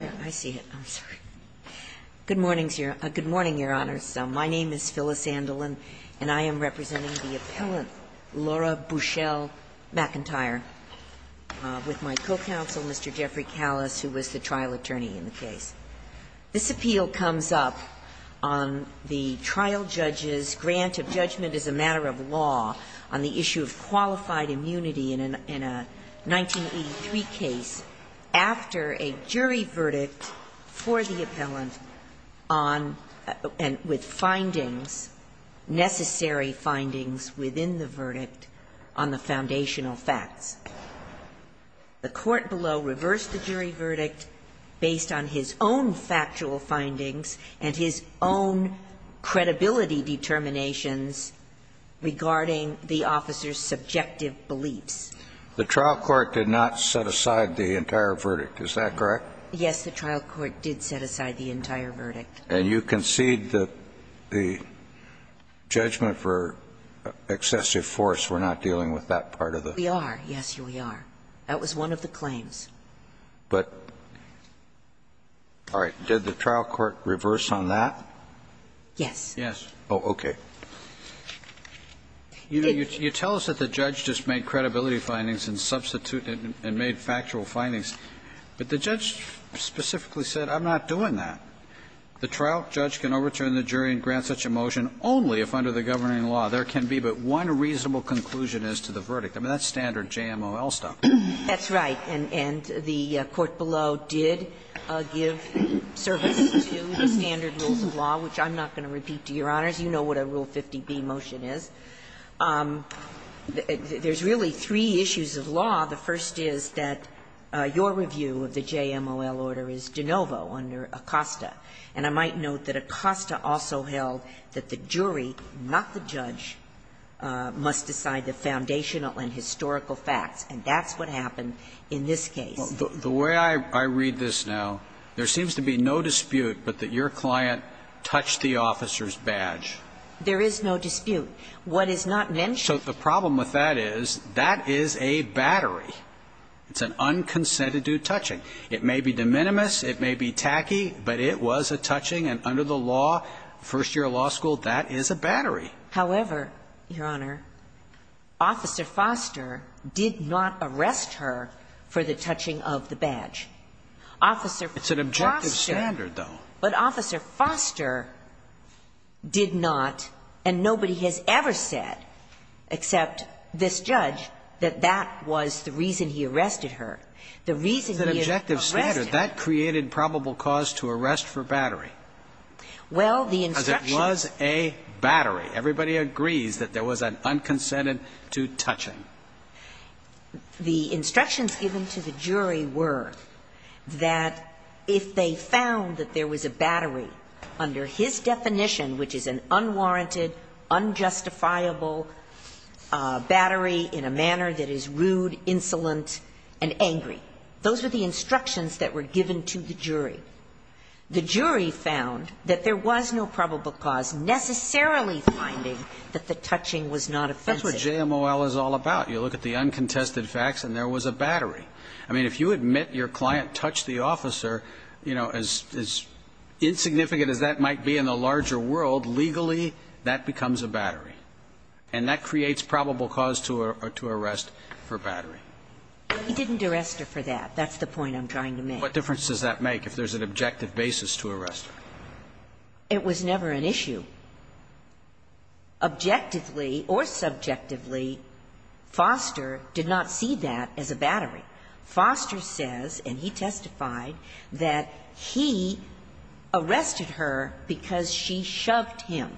Good morning, Your Honors. My name is Phyllis Andelin, and I am representing the appellant, Laura Bushell-McIntyre, with my co-counsel, Mr. Jeffrey Callis, who was the trial attorney in the case. This appeal comes up on the trial judge's grant of judgment as a matter of law on the issue of qualified immunity in a 1983 case after a jury verdict had been given to the jury. The jury verdict for the appellant on and with findings, necessary findings within the verdict on the foundational facts. The court below reversed the jury verdict based on his own factual findings and his own credibility determinations regarding the officer's subjective beliefs. The trial court did not set aside the entire verdict. Is that correct? Yes, the trial court did set aside the entire verdict. And you concede that the judgment for excessive force, we're not dealing with that part of the? We are. Yes, we are. That was one of the claims. But all right. Did the trial court reverse on that? Yes. Yes. Oh, okay. You tell us that the judge just made credibility findings and substituted and made factual findings. But the judge specifically said, I'm not doing that. The trial judge can overturn the jury and grant such a motion only if under the governing law there can be but one reasonable conclusion as to the verdict. I mean, that's standard JMOL stuff. That's right. And the court below did give service to the standard rules of law, which I'm not going to repeat to Your Honors. You know what a Rule 50b motion is. There's really three issues of law. The first is that your review of the JMOL order is de novo under Acosta. And I might note that Acosta also held that the jury, not the judge, must decide the foundational and historical facts. And that's what happened in this case. The way I read this now, there seems to be no dispute but that your client touched the officer's badge. There is no dispute. What is not mentioned. So the problem with that is, that is a battery. It's an unconsented due touching. It may be de minimis. It may be tacky. But it was a touching. And under the law, first year of law school, that is a battery. However, Your Honor, Officer Foster did not arrest her for the touching of the badge. Officer Foster. It's an objective standard, though. But Officer Foster did not, and nobody has ever said, except this judge, that that was the reason he arrested her. The reason he arrested her. That's an objective standard. That created probable cause to arrest for battery. Well, the instructions. Because it was a battery. Everybody agrees that there was an unconsented due touching. The instructions given to the jury were that if they found that there was a battery under his definition, which is an unwarranted, unjustifiable battery in a manner that is rude, insolent, and angry. Those were the instructions that were given to the jury. The jury found that there was no probable cause necessarily finding that the touching was not offensive. That's what JMOL is all about. You look at the uncontested facts, and there was a battery. I mean, if you admit your client touched the officer, you know, as insignificant as that might be in the larger world, legally, that becomes a battery. And that creates probable cause to arrest for battery. He didn't arrest her for that. That's the point I'm trying to make. What difference does that make if there's an objective basis to arrest her? It was never an issue. Objectively or subjectively, Foster did not see that as a battery. Foster says, and he testified, that he arrested her because she shoved him.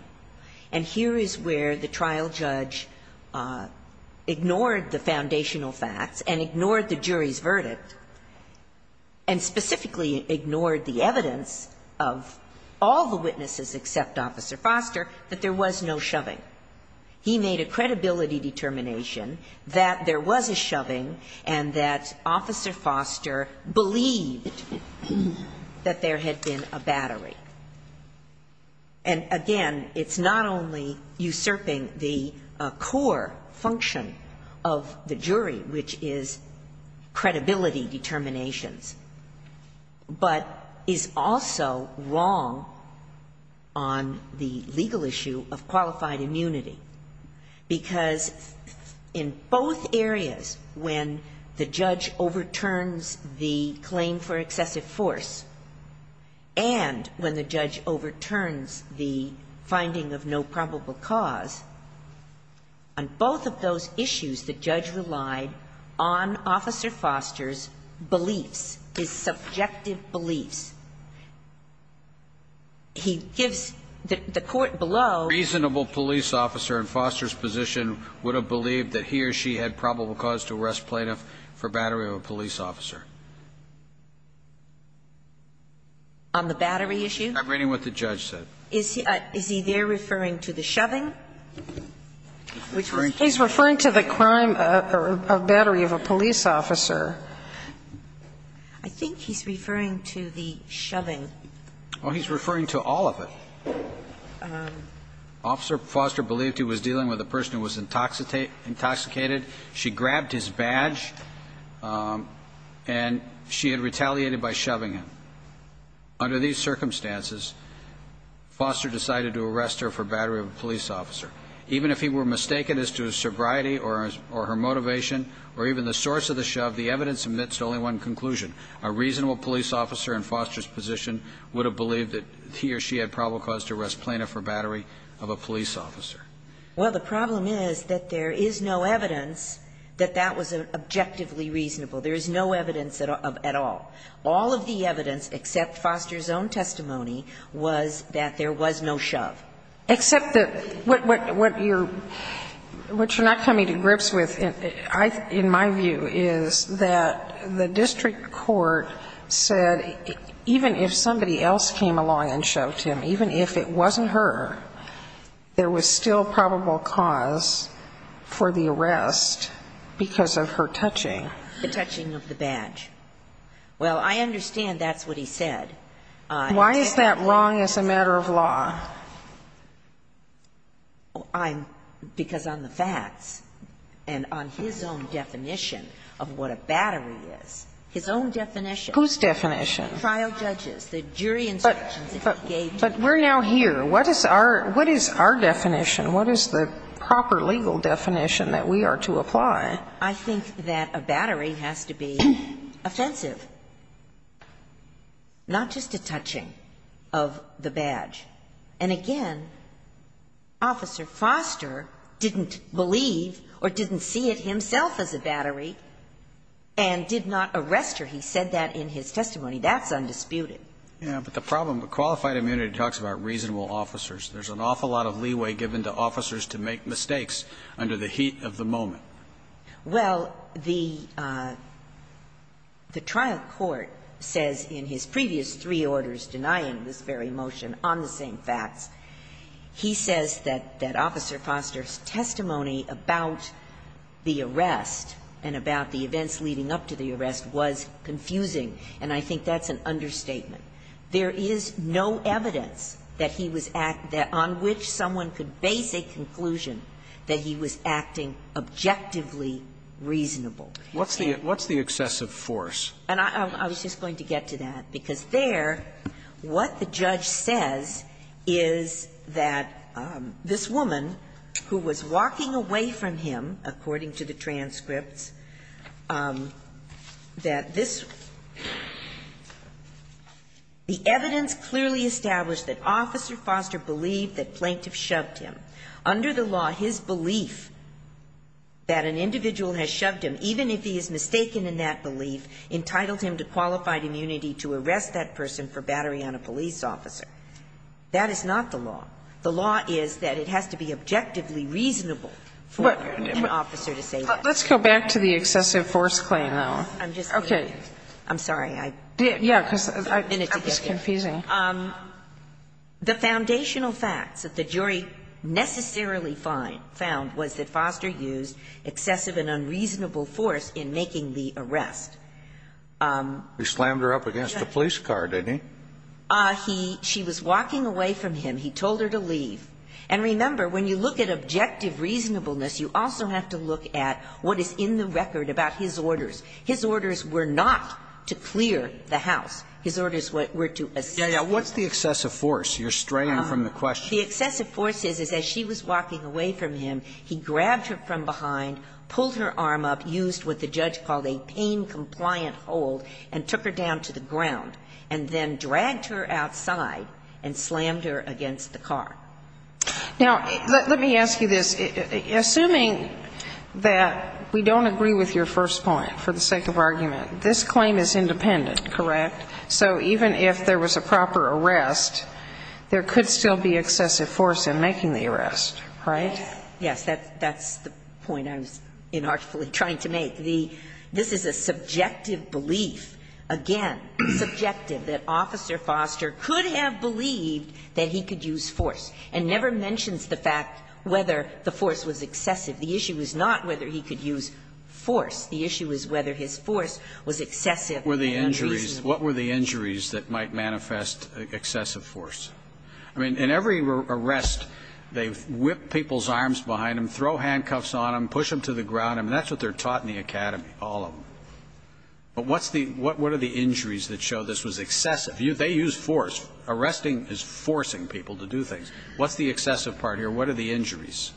And here is where the trial judge ignored the foundational facts and ignored the jury's verdict, and specifically ignored the evidence of all the witnesses except Officer Foster, that there was no shoving. He made a credibility determination that there was a shoving and that Officer Foster believed that there had been a battery. And again, it's not only usurping the core function of the jury, which is credibility determinations, but is also wrong on the legal issue of qualified immunity, because in both areas, when the judge overturns the claim for excessive force and when the judge overturns the finding of no probable cause, on both of those issues the judge relied on Officer Foster's beliefs, his subjective beliefs. He gives the court below. Reasonable police officer in Foster's position would have believed that he or she had probable cause to arrest plaintiff for battery of a police officer. On the battery issue? I'm reading what the judge said. Is he there referring to the shoving? He's referring to the crime of battery of a police officer. I think he's referring to the shoving. Well, he's referring to all of it. Officer Foster believed he was dealing with a person who was intoxicated. She grabbed his badge and she had retaliated by shoving him. Under these circumstances, Foster decided to arrest her for battery of a police officer. Even if he were mistaken as to his sobriety or her motivation or even the source of the shove, the evidence admits to only one conclusion. A reasonable police officer in Foster's position would have believed that he or she had probable cause to arrest plaintiff for battery of a police officer. Well, the problem is that there is no evidence that that was objectively reasonable. There is no evidence at all. All of the evidence, except Foster's own testimony, was that there was no shove. Except that what you're not coming to grips with, in my view, is that the district court said even if somebody else came along and shoved him, even if it wasn't her, there was still probable cause for the arrest because of her touching. The touching of the badge. Well, I understand that's what he said. Why is that wrong as a matter of law? Because on the facts and on his own definition of what a battery is, his own definition. Whose definition? Trial judges. The jury instructions that he gave. But we're now here. What is our definition? What is the proper legal definition that we are to apply? I think that a battery has to be offensive, not just a touching of the badge. And again, Officer Foster didn't believe or didn't see it himself as a battery and did not arrest her. He said that in his testimony. That's undisputed. Yeah. But the problem with qualified immunity talks about reasonable officers. There's an awful lot of leeway given to officers to make mistakes under the heat of the moment. Well, the trial court says in his previous three orders denying this very motion on the same facts, he says that Officer Foster's testimony about the arrest and about the events leading up to the arrest was confusing, and I think that's an understatement. There is no evidence that he was act that on which someone could base a conclusion that he was acting objectively reasonable. What's the excessive force? And I was just going to get to that, because there, what the judge says is that this woman, who was walking away from him, according to the transcripts, that this woman was walking away from him, the evidence clearly established that Officer Foster believed that plaintiff shoved him. Under the law, his belief that an individual has shoved him, even if he is mistaken in that belief, entitled him to qualified immunity to arrest that person for battery on a police officer. That is not the law. The law is that it has to be objectively reasonable for an officer to say that. Let's go back to the excessive force claim, though. I'm just going to get there. I'm sorry. I have a minute to get there. The foundational facts that the jury necessarily found was that Foster used excessive and unreasonable force in making the arrest. He slammed her up against the police car, didn't he? She was walking away from him. He told her to leave. And remember, when you look at objective reasonableness, you also have to look at what is in the record about his orders. His orders were not to clear the house. His orders were to assist. Yeah, yeah. What's the excessive force? You're straying from the question. The excessive force is, as she was walking away from him, he grabbed her from behind, pulled her arm up, used what the judge called a pain-compliant hold, and took her down to the ground, and then dragged her outside and slammed her against the car. Now, let me ask you this. Assuming that we don't agree with your first point, for the sake of argument, this claim is independent, correct? So even if there was a proper arrest, there could still be excessive force in making the arrest, right? Yes. That's the point I was inartfully trying to make. This is a subjective belief, again, subjective, that Officer Foster could have believed that he could use force, and never mentions the fact whether the force was excessive. The issue is not whether he could use force. The issue is whether his force was excessive and unreasonable. What were the injuries that might manifest excessive force? I mean, in every arrest, they whip people's arms behind them, throw handcuffs on them, push them to the ground. I mean, that's what they're taught in the academy, all of them. But what are the injuries that show this was excessive? They used force. Arresting is forcing people to do things. What's the excessive part here? What are the injuries?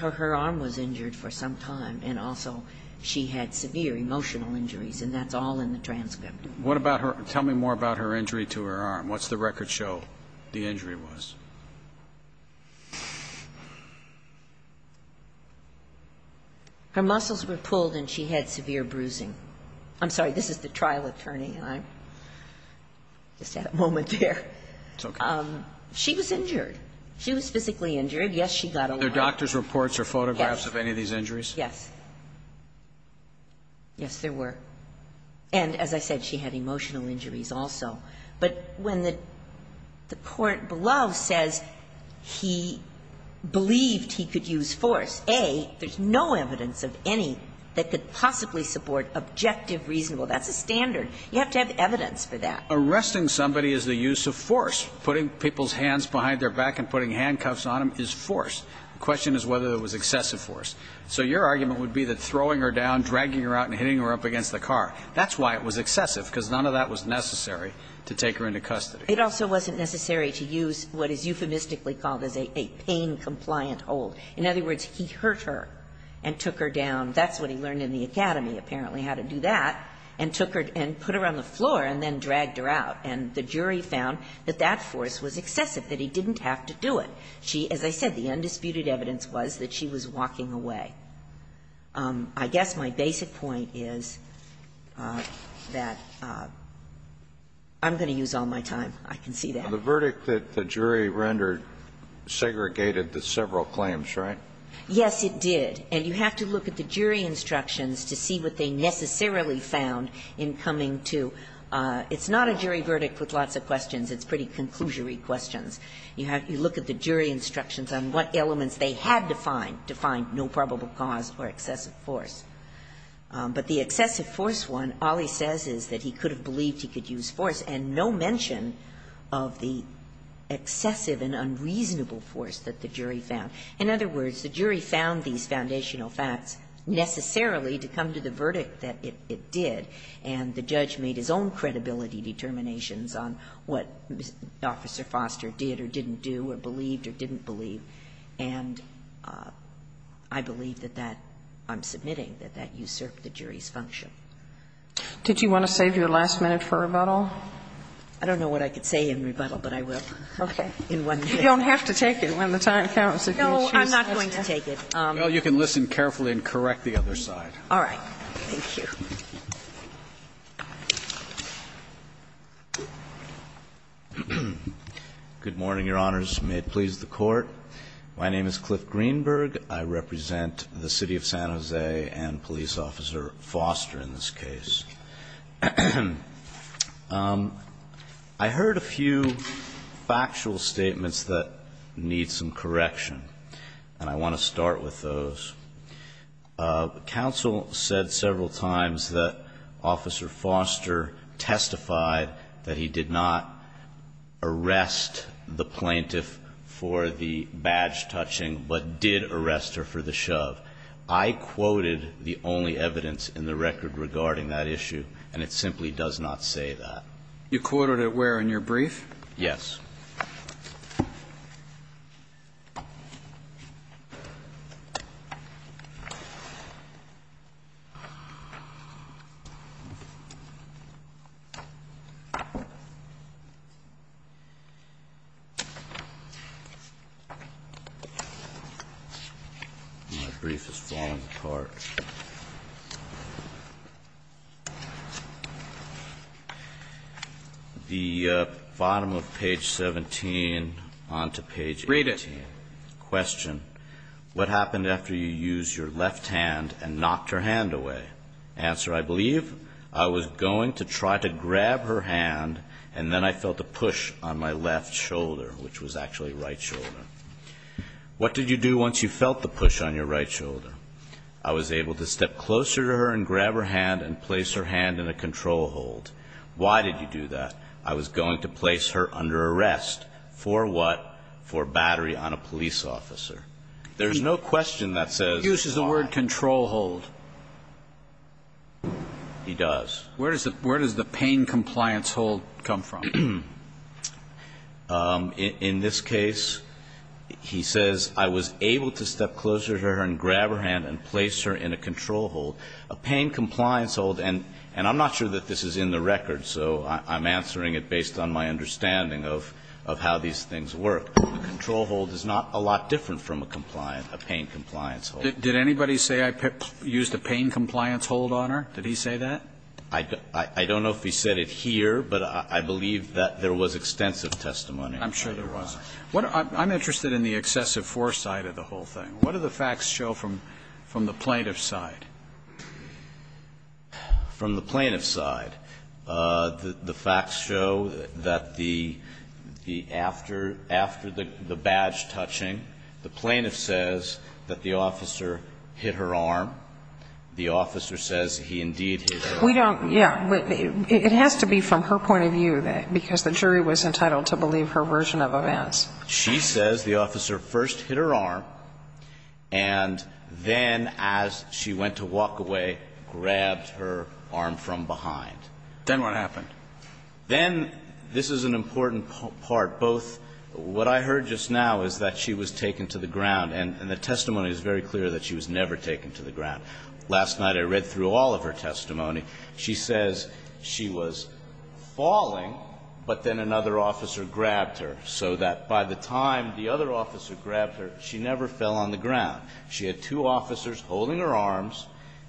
Her arm was injured for some time, and also she had severe emotional injuries, and that's all in the transcript. What about her? Tell me more about her injury to her arm. What's the record show the injury was? Her muscles were pulled and she had severe bruising. I'm sorry. This is the trial attorney. I just had a moment there. She was injured. She was physically injured. Yes, she got a lot. Are there doctor's reports or photographs of any of these injuries? Yes. Yes, there were. And as I said, she had emotional injuries also. But when the court below says he believed he could use force, A, there's no evidence of any that could possibly support objective, reasonable. That's a standard. You have to have evidence for that. Arresting somebody is the use of force. Putting people's hands behind their back and putting handcuffs on them is force. The question is whether it was excessive force. So your argument would be that throwing her down, dragging her out, and hitting her up against the car, that's why it was excessive, because none of that was necessary to take her into custody. It also wasn't necessary to use what is euphemistically called as a pain-compliant hold. In other words, he hurt her and took her down. That's what he learned in the academy, apparently, how to do that, and took her and put her on the floor and then dragged her out. And the jury found that that force was excessive, that he didn't have to do it. She, as I said, the undisputed evidence was that she was walking away. I guess my basic point is that I'm going to use all my time. I can see that. The verdict that the jury rendered segregated the several claims, right? Yes, it did. And you have to look at the jury instructions to see what they necessarily found in coming to. It's not a jury verdict with lots of questions. It's pretty conclusory questions. You have to look at the jury instructions on what elements they had to find to find no probable cause or excessive force. But the excessive force one, all he says is that he could have believed he could use force, and no mention of the excessive and unreasonable force that the jury found. In other words, the jury found these foundational facts necessarily to come to the verdict that it did, and the judge made his own credibility determinations on what Officer Foster did or didn't do or believed or didn't believe. And I believe that that, I'm submitting, that that usurped the jury's function. Did you want to save your last minute for rebuttal? I don't know what I could say in rebuttal, but I will. Okay. In one minute. You don't have to take it when the time counts. No, I'm not going to take it. Well, you can listen carefully and correct the other side. All right. Thank you. Good morning, Your Honors. May it please the Court. My name is Cliff Greenberg. I represent the City of San Jose and Police Officer Foster in this case. I heard a few factual statements that need some correction, and I want to start with those. Counsel said several times that Officer Foster testified that he did not arrest the plaintiff for the badge touching, but did arrest her for the shove. I quoted the only evidence in the record regarding that issue, and it simply does not say that. You quoted it where in your brief? Yes. My brief is falling apart. The bottom of page 17 on to page 18. Read it. Question. What happened after you used your left hand and knocked her hand away? Answer. I believe I was going to try to grab her hand, and then I felt a push on my left shoulder, which was actually right shoulder. What did you do once you felt the push on your right shoulder? I was able to step closer to her and grab her hand and place her hand in a control hold. Why did you do that? I was going to place her under arrest. For what? For battery on a police officer. There's no question that says. He uses the word control hold. He does. Where does the pain compliance hold come from? In this case, he says, I was able to step closer to her and grab her hand and place her in a control hold. A pain compliance hold, and I'm not sure that this is in the record, so I'm answering it based on my understanding of how these things work. A control hold is not a lot different from a pain compliance hold. Did anybody say I used a pain compliance hold on her? Did he say that? I don't know if he said it here, but I believe that there was extensive testimony. I'm sure there was. I'm interested in the excessive foresight of the whole thing. What do the facts show from the plaintiff's side? From the plaintiff's side, the facts show that after the badge touching, the plaintiff says that the officer hit her arm. The officer says he indeed hit her arm. We don't, yeah. It has to be from her point of view, because the jury was entitled to believe her version of events. She says the officer first hit her arm, and then as she went to walk away, grabbed her arm from behind. Then what happened? Then, this is an important part, both what I heard just now is that she was taken to the ground, and the testimony is very clear that she was never taken to the ground. Last night I read through all of her testimony. She says she was falling, but then another officer grabbed her, so that by the time the other officer grabbed her, she never fell on the ground. She had two officers holding her arms.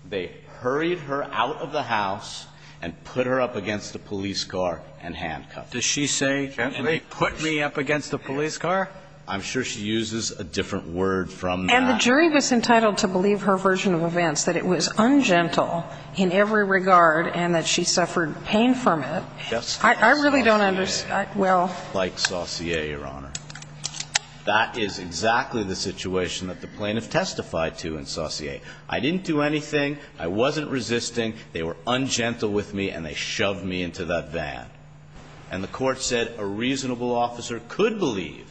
They hurried her out of the house and put her up against a police car and handcuffed her. Does she say, and they put me up against a police car? I'm sure she uses a different word from that. And the jury was entitled to believe her version of events, that it was ungentle in every regard, and that she suffered pain from it. I really don't understand. Like Saussure, Your Honor. That is exactly the situation that the plaintiff testified to in Saussure. I didn't do anything. I wasn't resisting. They were ungentle with me, and they shoved me into that van. And the court said a reasonable officer could believe,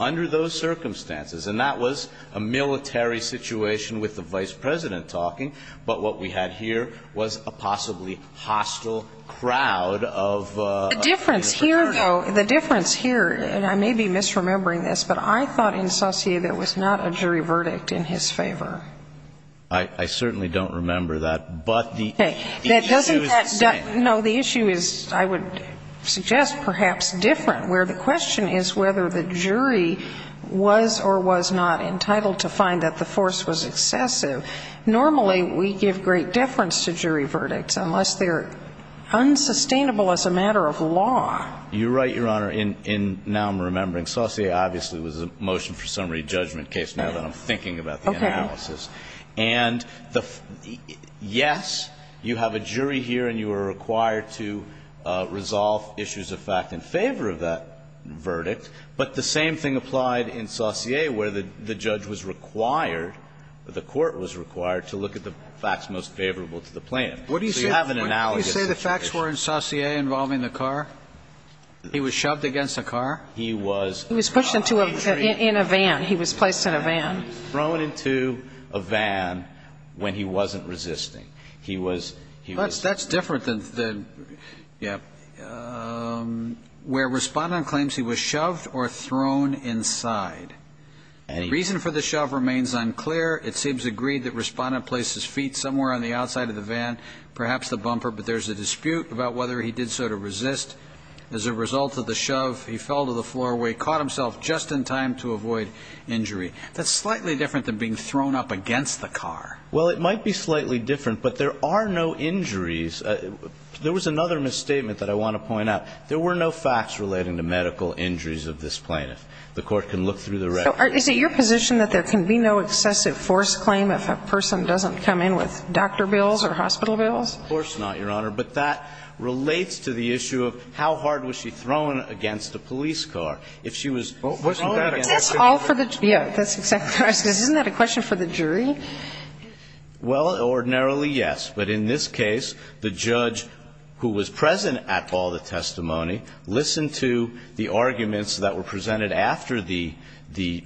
under those circumstances, and that was a military situation with the Vice President talking, but what we had here was a possibly hostile crowd of military personnel. The difference here, though, the difference here, and I may be misremembering this, but I thought in Saussure there was not a jury verdict in his favor. I certainly don't remember that, but the issue is the same. I would suggest perhaps different, where the question is whether the jury was or was not entitled to find that the force was excessive. Normally we give great deference to jury verdicts unless they're unsustainable as a matter of law. You're right, Your Honor, and now I'm remembering. Saussure obviously was a motion for summary judgment case now that I'm thinking about the analysis. Okay. And yes, you have a jury here and you are required to resolve issues of fact in favor of that verdict, but the same thing applied in Saussure where the judge was required, the court was required to look at the facts most favorable to the plaintiff. So you have an analogous situation. What do you say the facts were in Saussure involving the car? He was shoved against the car? He was pushed into a van. He was placed in a van. He was thrown into a van when he wasn't resisting. He was, he was. That's different than, yeah, where Respondent claims he was shoved or thrown inside. Reason for the shove remains unclear. It seems agreed that Respondent placed his feet somewhere on the outside of the van, perhaps the bumper, but there's a dispute about whether he did so to resist. As a result of the shove, he fell to the floor where he caught himself just in time to avoid injury. That's slightly different than being thrown up against the car. Well, it might be slightly different, but there are no injuries. There was another misstatement that I want to point out. There were no facts relating to medical injuries of this plaintiff. The court can look through the record. So is it your position that there can be no excessive force claim if a person doesn't come in with doctor bills or hospital bills? Of course not, Your Honor, but that relates to the issue of how hard was she thrown against a police car. If she was thrown against a police car. But that's all for the jury. Isn't that a question for the jury? Well, ordinarily, yes. But in this case, the judge who was present at all the testimony listened to the arguments that were presented after the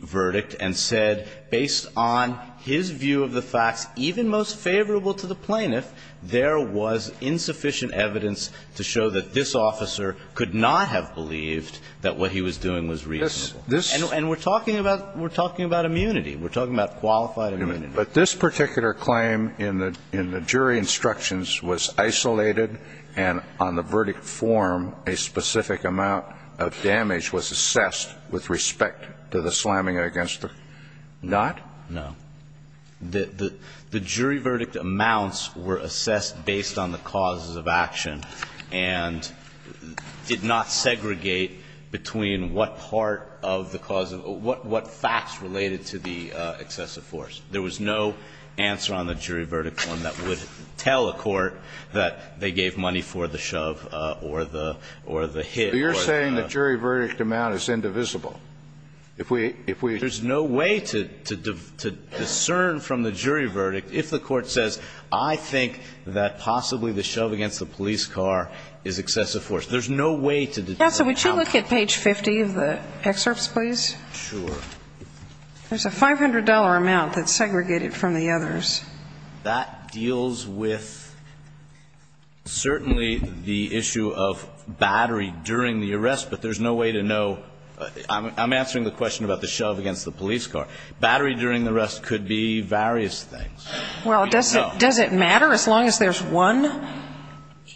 verdict and said, based on his view of the facts, even most favorable to the plaintiff, there was insufficient evidence to show that this officer could not have believed that what he was doing was reasonable. And we're talking about immunity. We're talking about qualified immunity. But this particular claim in the jury instructions was isolated and on the verdict form a specific amount of damage was assessed with respect to the slamming against the car. Not? No. The jury verdict amounts were assessed based on the causes of action and did not tell the court of the cause of what facts related to the excessive force. There was no answer on the jury verdict form that would tell a court that they gave money for the shove or the hit. But you're saying the jury verdict amount is indivisible. There's no way to discern from the jury verdict if the court says, I think that possibly the shove against the police car is excessive force. There's no way to discern how. Yes, so would you look at page 50 of the excerpts, please? Sure. There's a $500 amount that's segregated from the others. That deals with certainly the issue of battery during the arrest, but there's no way to know. I'm answering the question about the shove against the police car. Battery during the arrest could be various things. Well, does it matter as long as there's one?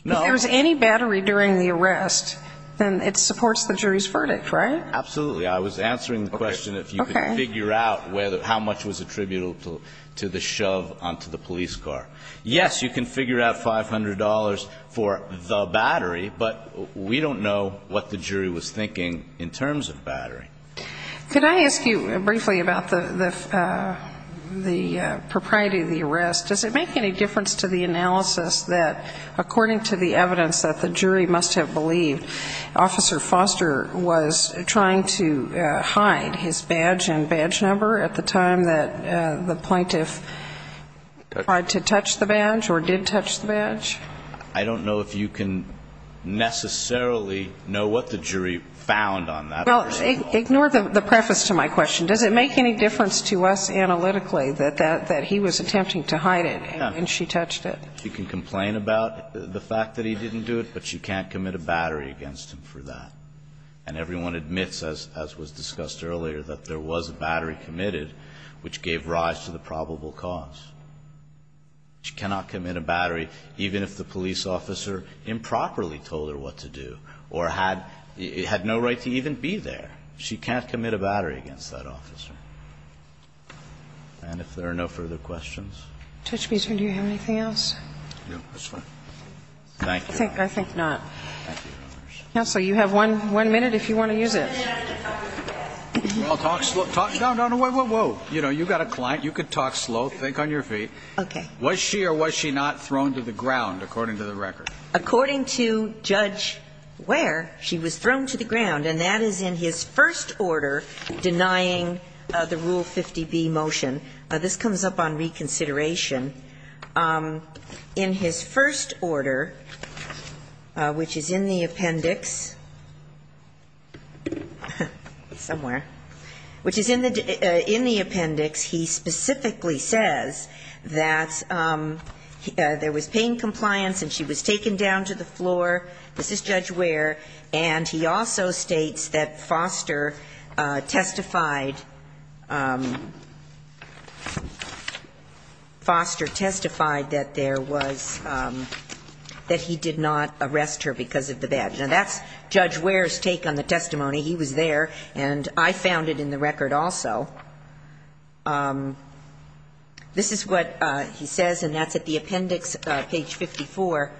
No. If there's any battery during the arrest, then it supports the jury's verdict, right? Absolutely. I was answering the question if you could figure out how much was attributable to the shove onto the police car. Yes, you can figure out $500 for the battery, but we don't know what the jury was thinking in terms of battery. Could I ask you briefly about the propriety of the arrest? Does it make any difference to the analysis that according to the evidence that the jury must have believed Officer Foster was trying to hide his badge and badge number at the time that the plaintiff tried to touch the badge or did touch the badge? I don't know if you can necessarily know what the jury found on that. Well, ignore the preface to my question. Does it make any difference to us analytically that he was attempting to hide it and she touched it? She can complain about the fact that he didn't do it, but she can't commit a battery against him for that. And everyone admits, as was discussed earlier, that there was a battery committed which gave rise to the probable cause. She cannot commit a battery even if the police officer improperly told her what to do or had no right to even be there. She can't commit a battery against that officer. And if there are no further questions. Judge Beeson, do you have anything else? No. That's fine. Thank you. I think not. Counsel, you have one minute if you want to use it. I'll talk slow. No, no, no. Whoa, whoa, whoa. You know, you've got a client. You could talk slow. Think on your feet. Okay. Was she or was she not thrown to the ground according to the record? According to Judge Ware, she was thrown to the ground. And that is in his first order denying the Rule 50B motion. This comes up on reconsideration. In his first order, which is in the appendix, somewhere, which is in the appendix, he specifically says that there was pain compliance and she was taken down to the floor. This is Judge Ware. And he also states that Foster testified, Foster testified that there was, that he did not arrest her because of the badge. Now, that's Judge Ware's take on the testimony. He was there. And I found it in the record also. This is what he says, and that's at the appendix, page 54.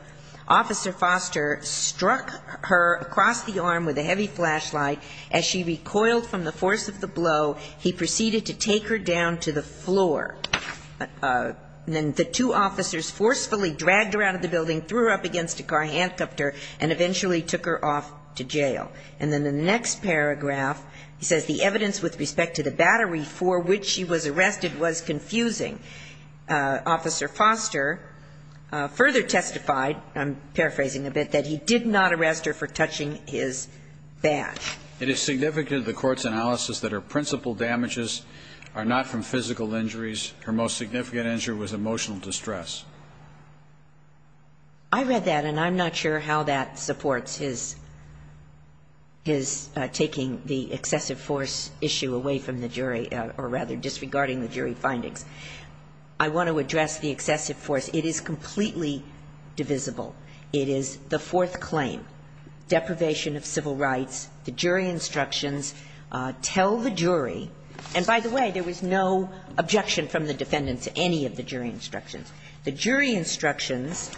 Officer Foster struck her across the arm with a heavy flashlight. As she recoiled from the force of the blow, he proceeded to take her down to the floor. Then the two officers forcefully dragged her out of the building, threw her up against a car handcuffer, and eventually took her off to jail. And then the next paragraph, he says the evidence with respect to the battery for which she was arrested was confusing. Officer Foster further testified, I'm paraphrasing a bit, that he did not arrest her for touching his badge. It is significant to the Court's analysis that her principal damages are not from physical injuries. Her most significant injury was emotional distress. I read that, and I'm not sure how that supports his taking the excessive force issue away from the jury, or rather, disregarding the jury findings. I want to address the excessive force. It is completely divisible. It is the fourth claim, deprivation of civil rights. The jury instructions tell the jury. And by the way, there was no objection from the defendant to any of the jury instructions. The jury instructions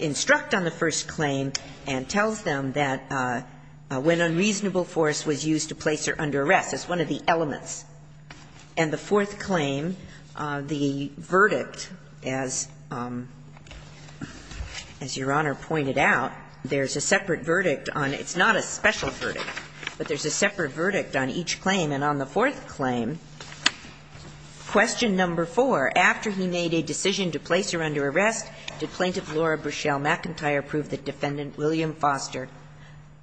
instruct on the first claim and tells them that when unreasonable force was used to place her under arrest. It's one of the elements. And the fourth claim, the verdict, as Your Honor pointed out, there's a separate verdict on – it's not a special verdict, but there's a separate verdict on each claim. And on the fourth claim, question number four, after he made a decision to place her under arrest, did Plaintiff Laura Burchell McIntyre prove that Defendant William Foster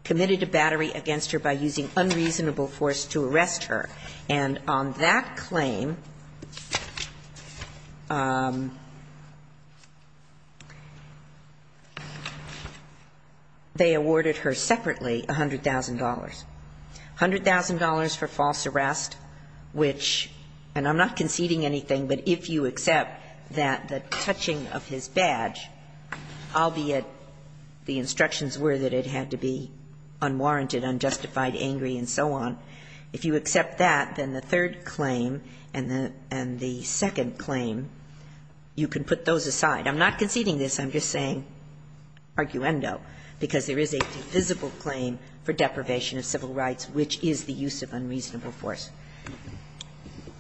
committed a battery against her by using unreasonable force to arrest her? And on that claim, they awarded her separately $100,000. $100,000 for false arrest, which – and I'm not conceding anything, but if you accept that the touching of his badge, albeit the instructions were that it had to be unwarranted, unjustified, angry, and so on, if you accept that, then the third claim and the second claim, you can put those aside. I'm not conceding this. I'm just saying, arguendo, because there is a defensible claim for deprivation of civil rights, which is the use of unreasonable force.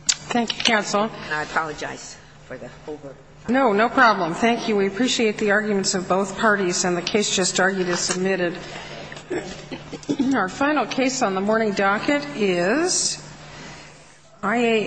Thank you, counsel. And I apologize for the over- No, no problem. Thank you. We appreciate the arguments of both parties. And the case just argued is submitted. Our final case on the morning docket is IA M.